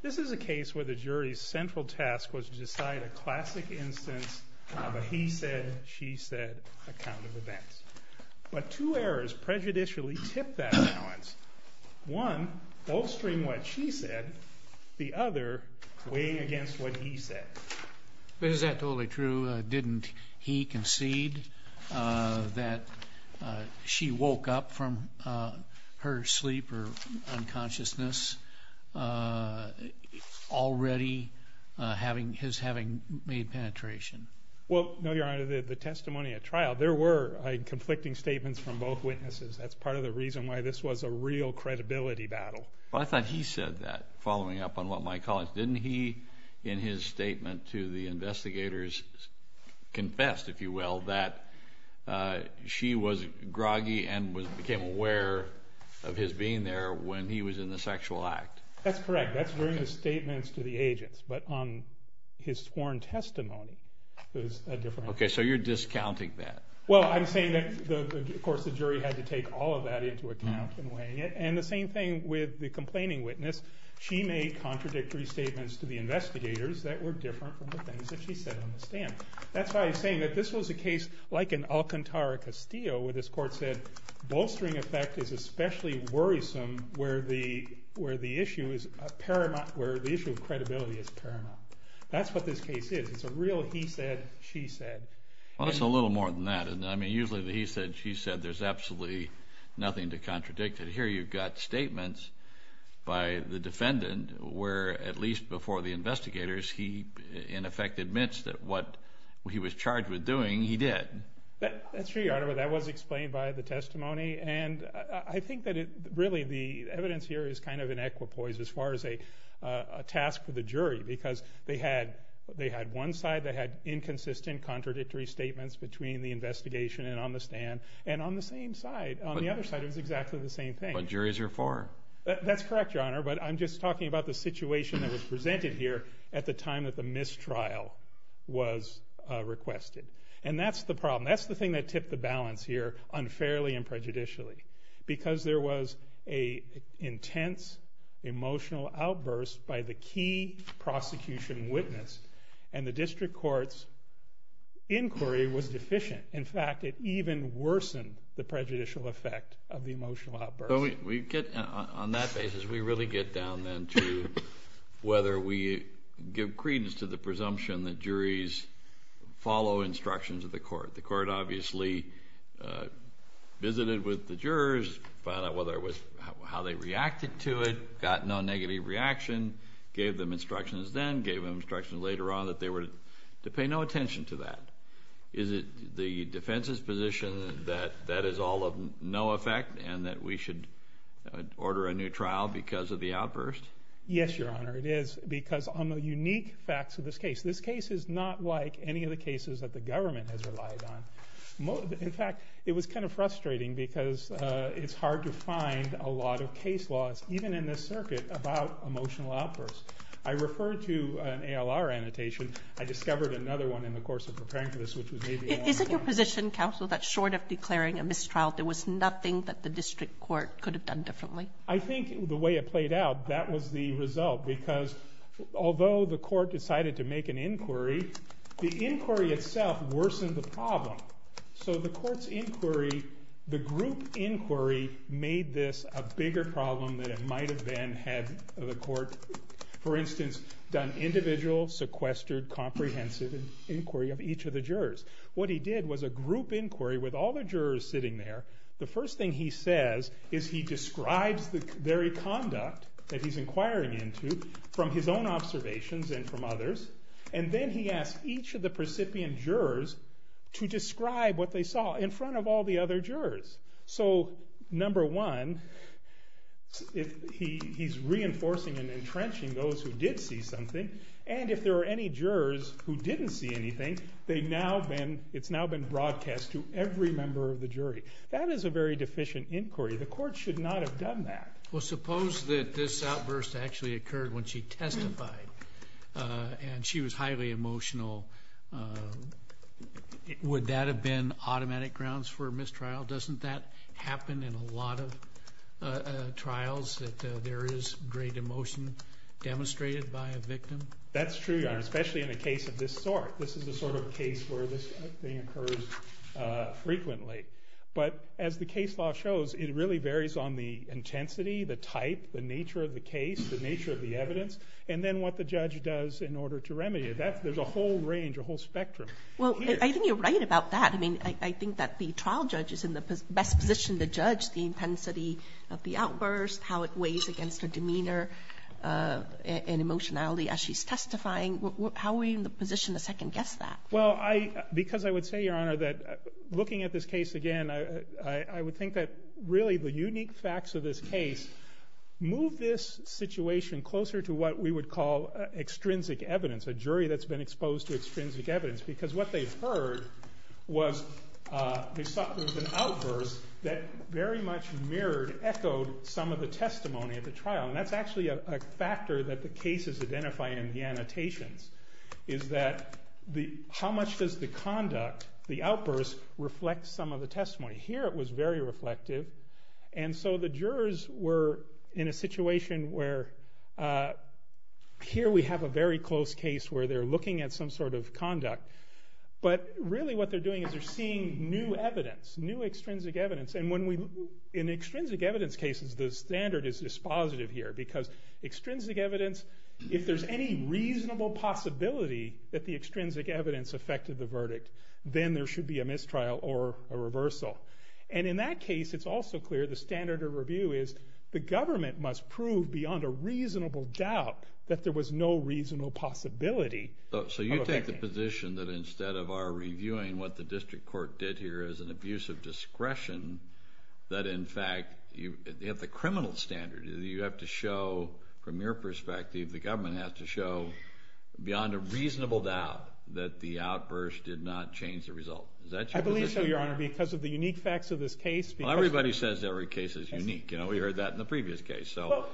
This is a case where the jury's central task was to decide a classic instance of a he said, she said, account of events, but two errors prejudicially tipped that balance. One bolstering what she said, the other weighing against what he said. But is that totally true? Didn't he concede that she woke up from her sleep or unconsciousness already having his having made penetration? Well, no, Your Honor, the testimony at trial, there were conflicting statements from both witnesses. That's part of the reason why this was a real credibility battle. Well, I thought he said that following up on what my colleagues, didn't he, in his statement to the investigators, confessed, if you will, that she was groggy and became aware of his being there when he was in the sexual act? That's correct. That's during the statements to the agents. But on his sworn testimony, there's a difference. Okay, so you're discounting that. Well, I'm saying that, of course, the jury had to take all of that into account in weighing it. And the same thing with the complaining witness. She made contradictory statements to the investigators that were different from the things that she said on the stand. That's why I'm saying that this was a case like in Alcantara Castillo, where this court said, bolstering effect is especially worrisome where the issue of credibility is paramount. That's what this case is. It's a real he said, she said. Well, it's a little more than that. I mean, usually the he said, she said, there's absolutely nothing to contradict. Here you've got statements by the defendant where, at least before the investigators, he in effect admits that what he was charged with doing, he did. That's true, Your Honor, but that was explained by the testimony. And I think that really the evidence here is kind of an equipoise as far as a task for the jury because they had one side that had inconsistent, contradictory statements between the investigation and on the stand. And on the same side, on the other side, it was exactly the same thing. But juries are foreign. That's correct, Your Honor, but I'm just talking about the situation that was presented here at the time that the mistrial was requested. And that's the problem. That's the thing that tipped the balance here unfairly and prejudicially. Because there was a intense emotional outburst by the key prosecution witness and the district court's inquiry was deficient. In fact, it even worsened the prejudicial effect of the emotional outburst. On that basis, we really get down then to whether we give credence to the presumption that juries follow instructions of the court. The court obviously visited with the jurors, found out how they reacted to it, got no negative reaction, gave them instructions then, gave them instructions later on that they were to pay no attention to that. Is it the defense's position that that is all of no effect and that we should order a new trial because of the outburst? Yes, Your Honor, it is. Because on the unique facts of this case, this case is not like any of the cases that the government has relied on. In fact, it was kind of frustrating because it's hard to find a lot of case laws, even in this circuit, about emotional outbursts. I referred to an ALR annotation. I discovered another one in the course of preparing for this, which was maybe a long time ago. Is it your position, counsel, that short of declaring a mistrial, there was nothing that the district court could have done differently? I think the way it played out, that was the result. Because although the court decided to make an inquiry, the inquiry itself worsened the problem. So the court's inquiry, the group inquiry, made this a bigger problem than it might have been had the court, for instance, done individual, sequestered, comprehensive inquiry of each of the jurors. What he did was a group inquiry with all the jurors sitting there. The first thing he says is he describes the very conduct that he's inquiring into from his own observations and from others. And then he asked each of the precipient jurors to describe what they saw in front of all the other jurors. So, number one, he's reinforcing and entrenching those who did see something. And if there were any jurors who didn't see anything, it's now been broadcast to every member of the jury. That is a very deficient inquiry. The court should not have done that. Well, suppose that this outburst actually occurred when she testified and she was highly emotional. Would that have been automatic grounds for mistrial? Doesn't that happen in a lot of trials, that there is great emotion demonstrated by a victim? That's true, Your Honor, especially in a case of this sort. This is the sort of case where this thing occurs frequently. But as the case law shows, it really varies on the intensity, the type, the nature of the case, the nature of the evidence, and then what the judge does in order to remedy it. There's a whole range, a whole spectrum. Well, I think you're right about that. I think that the trial judge is in the best position to judge the intensity of the outburst, how it weighs against her demeanor and emotionality as she's testifying. How are we in the position to second-guess that? Well, because I would say, Your Honor, that looking at this case again, I would think that really the unique facts of this case move this situation closer to what we would call extrinsic evidence, a jury that's been exposed to extrinsic evidence, because what they've heard was there was an outburst that very much mirrored, echoed some of the testimony of the trial. And that's actually a factor that the cases identify in the annotations, is that how much does the conduct, the outburst, reflect some of the testimony? Here it was very reflective. And so the jurors were in a situation where here we have a very close case where they're looking at some sort of conduct, but really what they're doing is they're seeing new evidence, new extrinsic evidence. In extrinsic evidence cases, the standard is dispositive here, because extrinsic evidence, if there's any reasonable possibility that the extrinsic evidence affected the verdict, then there should be a mistrial or a reversal. And in that case, it's also clear the standard of review is the government must prove beyond a reasonable doubt So you take the position that instead of our reviewing what the district court did here as an abuse of discretion, that in fact you have the criminal standard. You have to show, from your perspective, the government has to show beyond a reasonable doubt that the outburst did not change the result. Is that your position? I believe so, Your Honor, because of the unique facts of this case. Well, everybody says every case is unique. We heard that in the previous case. Perhaps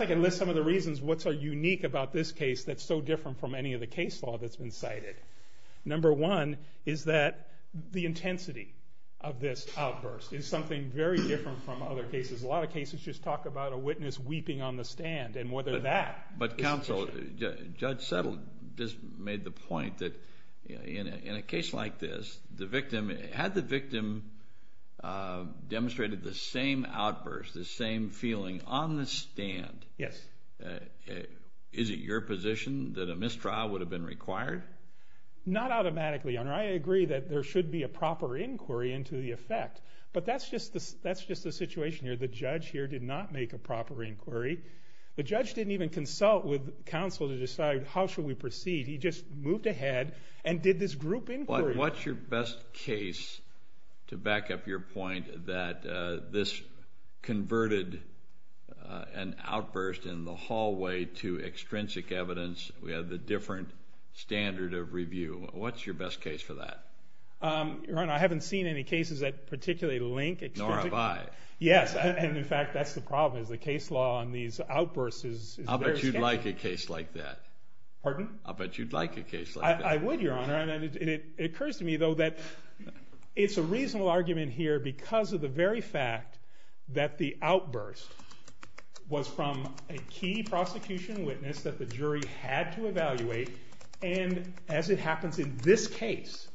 I can list some of the reasons what's so unique about this case that's so different from any of the case law that's been cited. Number one is that the intensity of this outburst is something very different from other cases. A lot of cases just talk about a witness weeping on the stand, and whether that... But counsel, Judge Settle just made the point that in a case like this, had the victim demonstrated the same outburst, the same feeling on the stand, is it your position that a mistrial would have been required? Not automatically, Your Honor. I agree that there should be a proper inquiry into the effect, but that's just the situation here. The judge here did not make a proper inquiry. The judge didn't even consult with counsel to decide how should we proceed. He just moved ahead and did this group inquiry. What's your best case to back up your point that this converted an outburst in the hallway to extrinsic evidence? We have a different standard of review. What's your best case for that? Your Honor, I haven't seen any cases that particularly link extrinsic evidence. Nor have I. Yes, and in fact, that's the problem, is the case law on these outbursts is very scanty. I'll bet you'd like a case like that. Pardon? I'll bet you'd like a case like that. I would, Your Honor, and it occurs to me, though, that it's a reasonable argument here because of the very fact that the outburst was from a key prosecution witness that the jury had to evaluate, and as it happens in this case,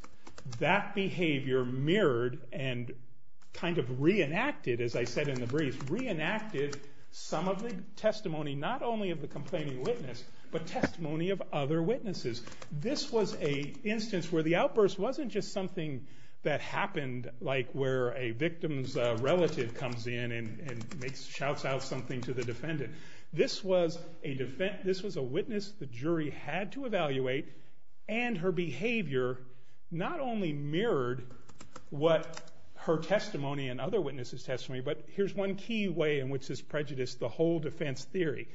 that behavior mirrored and kind of reenacted, as I said in the brief, reenacted some of the testimony not only of the complaining witness, but testimony of other witnesses. This was an instance where the outburst wasn't just something that happened, like where a victim's relative comes in and shouts out something to the defendant. This was a witness the jury had to evaluate, and her behavior not only mirrored what her testimony and other witnesses' testimony, but here's one key way in which this prejudiced the whole defense theory.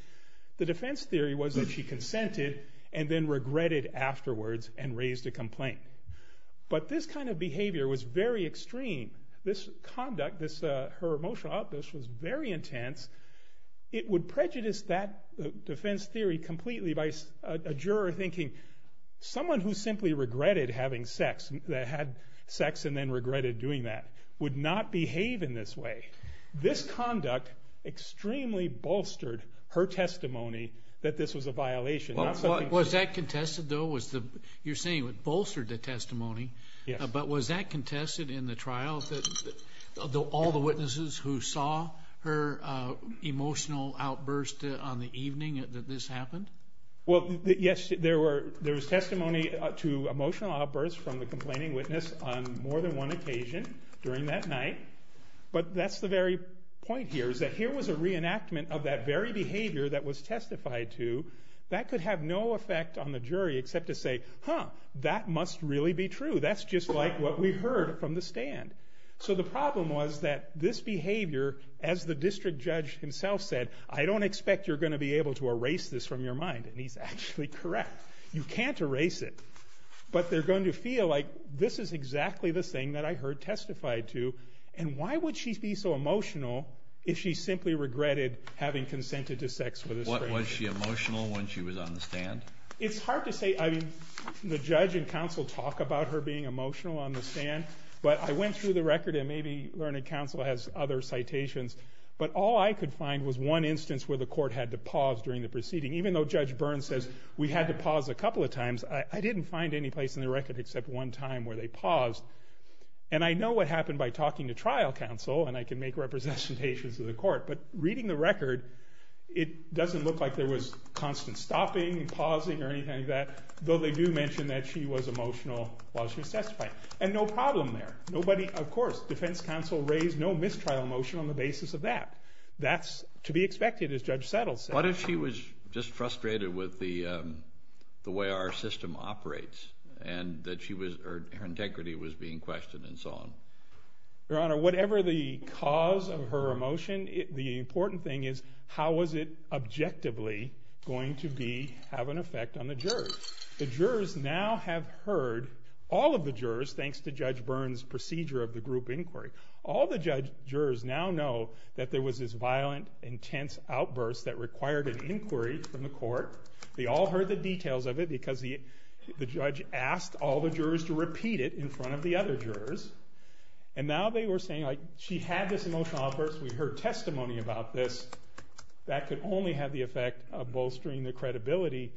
The defense theory was that she consented and then regretted afterwards and raised a complaint. But this kind of behavior was very extreme. This conduct, her emotional outburst was very intense. It would prejudice that defense theory completely by a juror thinking someone who simply regretted having sex, that had sex and then regretted doing that, would not behave in this way. This conduct extremely bolstered her testimony that this was a violation. Was that contested, though? You're saying it bolstered the testimony. Yes. But was that contested in the trial, all the witnesses who saw her emotional outburst on the evening that this happened? Well, yes, there was testimony to emotional outbursts from the complaining witness on more than one occasion during that night, but that's the very point here, is that here was a reenactment of that very behavior that was testified to. That could have no effect on the jury except to say, huh, that must really be true. That's just like what we heard from the stand. So the problem was that this behavior, as the district judge himself said, I don't expect you're going to be able to erase this from your mind, and he's actually correct. You can't erase it, but they're going to feel like this is exactly the thing that I heard testified to and why would she be so emotional if she simply regretted having consented to sex with a stranger? Was she emotional when she was on the stand? It's hard to say. I mean, the judge and counsel talk about her being emotional on the stand, but I went through the record and maybe Learned Counsel has other citations, but all I could find was one instance where the court had to pause during the proceeding. Even though Judge Burns says we had to pause a couple of times, I didn't find any place in the record except one time where they paused. And I know what happened by talking to trial counsel, and I can make representations to the court, but reading the record, it doesn't look like there was constant stopping and pausing or anything like that, though they do mention that she was emotional while she was testifying. And no problem there. Nobody, of course, defense counsel raised no mistrial motion on the basis of that. That's to be expected, as Judge Settle said. What if she was just frustrated with the way our system operates and that her integrity was being questioned and so on? Your Honor, whatever the cause of her emotion, the important thing is how was it objectively going to have an effect on the jurors. The jurors now have heard, all of the jurors, thanks to Judge Burns' procedure of the group inquiry, all the jurors now know that there was this violent, intense outburst that required an inquiry from the court. They all heard the details of it because the judge asked all the jurors to repeat it in front of the other jurors. And now they were saying, like, she had this emotional outburst, we heard testimony about this, that could only have the effect of bolstering the credibility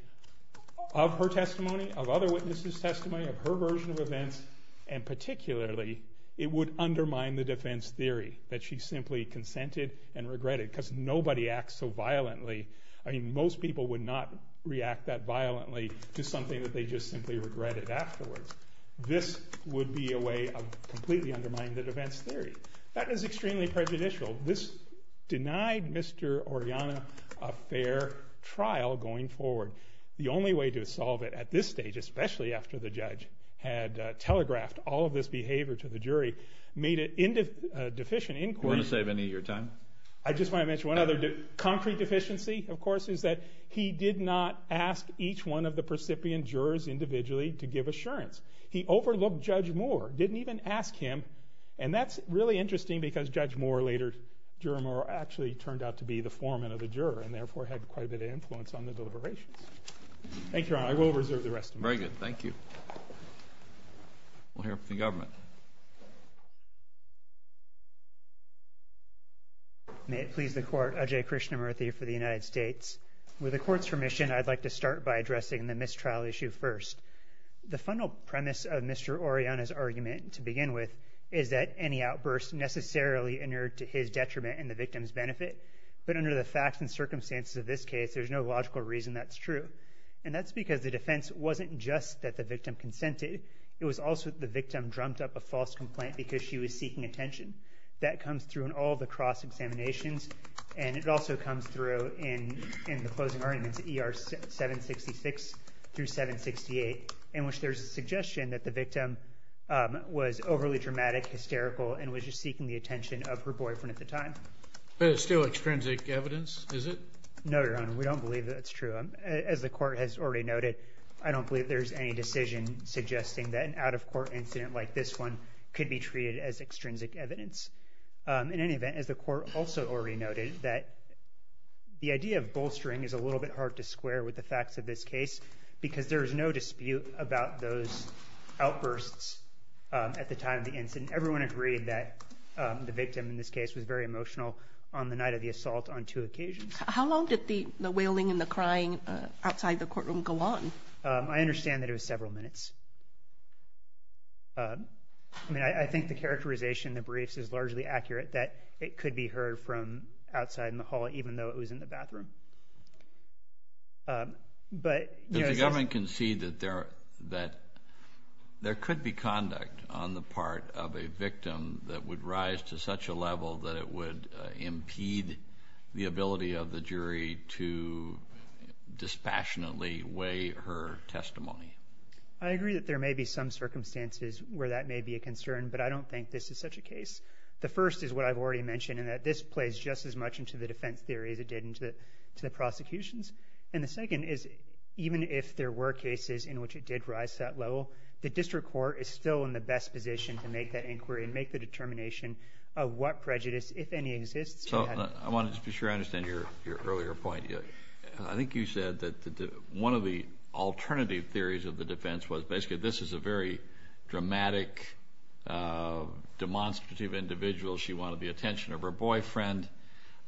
of her testimony, of other witnesses' testimony, of her version of events, and particularly, it would undermine the defense theory that she simply consented and regretted because nobody acts so violently. I mean, most people would not react that violently to something that they just simply regretted afterwards. This would be a way of completely undermining the defense theory. That is extremely prejudicial. This denied Mr. Oriana a fair trial going forward. The only way to solve it at this stage, especially after the judge had telegraphed all of this behavior to the jury, made it into a deficient inquiry. Do you want to save any of your time? I just want to mention one other concrete deficiency, of course, is that he did not ask each one of the percipient jurors individually to give assurance. He overlooked Judge Moore, didn't even ask him, and that's really interesting because Judge Moore later, actually turned out to be the foreman of the juror and therefore had quite a bit of influence on the deliberations. Thank you, Your Honor. I will reserve the rest of my time. Very good. Thank you. We'll hear from the government. May it please the Court. Ajay Krishnamurthy for the United States. With the Court's permission, I'd like to start by addressing the mistrial issue first. The final premise of Mr. Oriana's argument to begin with is that any outburst necessarily inured to his detriment and the victim's benefit, but under the facts and circumstances of this case, there's no logical reason that's true, and that's because the defense wasn't just that the victim consented. It was also that the victim drummed up a false complaint because she was seeking attention. That comes through in all the cross-examinations, and it also comes through in the closing arguments, ER 766 through 768, in which there's a suggestion that the victim was overly dramatic, hysterical, and was just seeking the attention of her boyfriend at the time. But it's still extrinsic evidence, is it? No, Your Honor. We don't believe that's true. As the Court has already noted, I don't believe there's any decision suggesting that an out-of-court incident like this one could be treated as extrinsic evidence. In any event, as the Court also already noted, that the idea of bolstering is a little bit hard to square with the facts of this case because there is no dispute about those outbursts at the time of the incident. Everyone agreed that the victim in this case was very emotional on the night of the assault on two occasions. How long did the wailing and the crying outside the courtroom go on? I understand that it was several minutes. I mean, I think the characterization in the briefs is largely accurate that it could be heard from outside in the hall even though it was in the bathroom. But, you know, is this— Does the government concede that there could be conduct on the part of a victim that would rise to such a level that it would impede the ability of the jury to dispassionately weigh her testimony? I agree that there may be some circumstances where that may be a concern, but I don't think this is such a case. The first is what I've already mentioned, and that this plays just as much into the defense theory as it did into the prosecutions. And the second is even if there were cases in which it did rise to that level, the district court is still in the best position to make that inquiry and make the determination of what prejudice, if any, exists. I want to just be sure I understand your earlier point. I think you said that one of the alternative theories of the defense was basically this is a very dramatic, demonstrative individual. She wanted the attention of her boyfriend,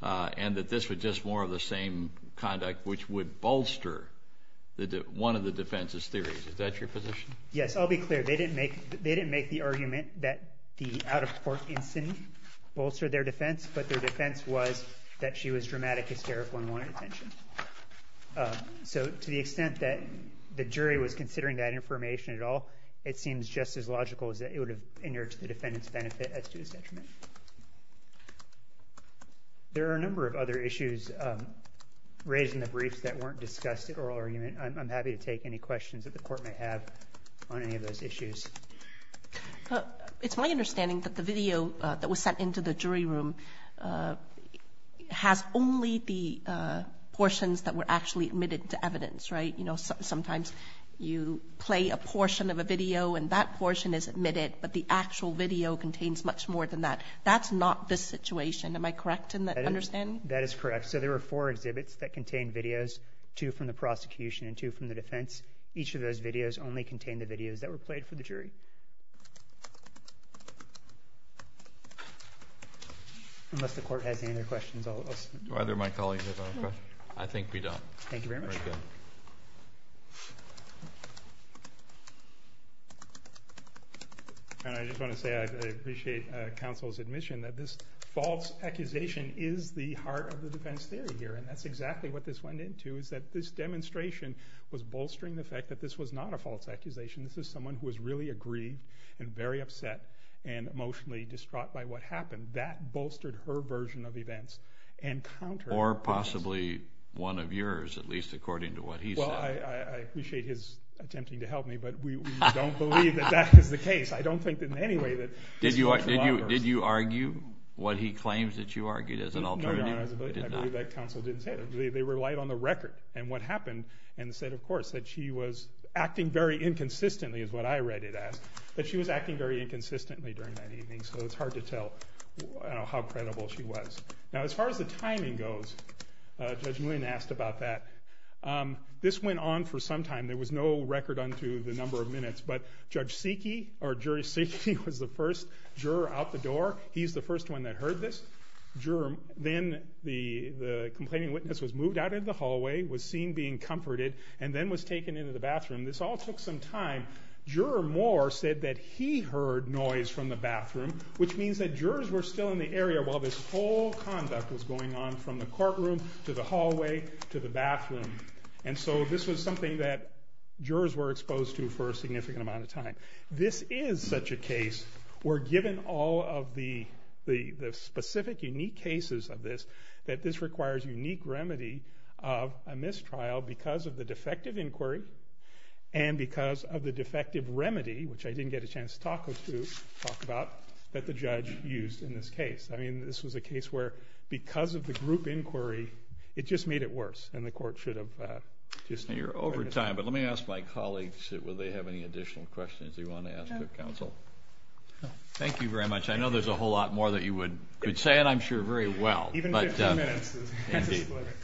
and that this was just more of the same conduct which would bolster one of the defense's theories. Is that your position? Yes, I'll be clear. They didn't make the argument that the out-of-court incident bolstered their defense, but their defense was that she was dramatic, hysterical, and wanted attention. So to the extent that the jury was considering that information at all, it seems just as logical as that it would have injured the defendant's benefit as to his detriment. There are a number of other issues raised in the briefs that weren't discussed at oral argument. I'm happy to take any questions that the court may have on any of those issues. It's my understanding that the video that was sent into the jury room has only the portions that were actually admitted to evidence, right? You know, sometimes you play a portion of a video and that portion is admitted, but the actual video contains much more than that. That's not this situation. Am I correct in understanding? That is correct. So there were four exhibits that contained videos, two from the prosecution and two from the defense. Each of those videos only contained the videos that were played for the jury. Unless the court has any other questions, I'll stop. Do either of my colleagues have a question? I think we don't. Thank you very much. And I just want to say I appreciate counsel's admission that this false accusation is the heart of the defense theory here, and that's exactly what this went into, is that this demonstration was bolstering the fact that this was not a false accusation. This is someone who was really aggrieved and very upset and emotionally distraught by what happened. That bolstered her version of events and countered it. Or possibly one of yours, at least according to what he said. Well, I appreciate his attempting to help me, but we don't believe that that is the case. I don't think in any way that this is true. Did you argue what he claims that you argued as an alternative? No, Your Honor. I believe that counsel didn't say that. They relied on the record and what happened and said, of course, that she was acting very inconsistently is what I read it as, that she was acting very inconsistently during that evening, so it's hard to tell how credible she was. Now, as far as the timing goes, Judge Nguyen asked about that. This went on for some time. There was no record on to the number of minutes, but Judge Sekey or Jury Sekey was the first juror out the door. He's the first one that heard this. Then the complaining witness was moved out of the hallway, was seen being comforted, and then was taken into the bathroom. This all took some time. Juror Moore said that he heard noise from the bathroom, which means that jurors were still in the area while this whole conduct was going on from the courtroom to the hallway to the bathroom. So this was something that jurors were exposed to for a significant amount of time. This is such a case where given all of the specific, unique cases of this, that this requires unique remedy of a mistrial because of the defective inquiry and because of the defective remedy, which I didn't get a chance to talk about, that the judge used in this case. This was a case where because of the group inquiry, it just made it worse, and the court should have just— You're over time, but let me ask my colleagues, will they have any additional questions they want to ask the counsel? Thank you very much. I know there's a whole lot more that you could say, and I'm sure very well. Even 15 minutes.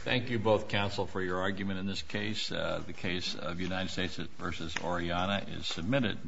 Thank you both, counsel, for your argument in this case. The case of United States v. Oriana is submitted.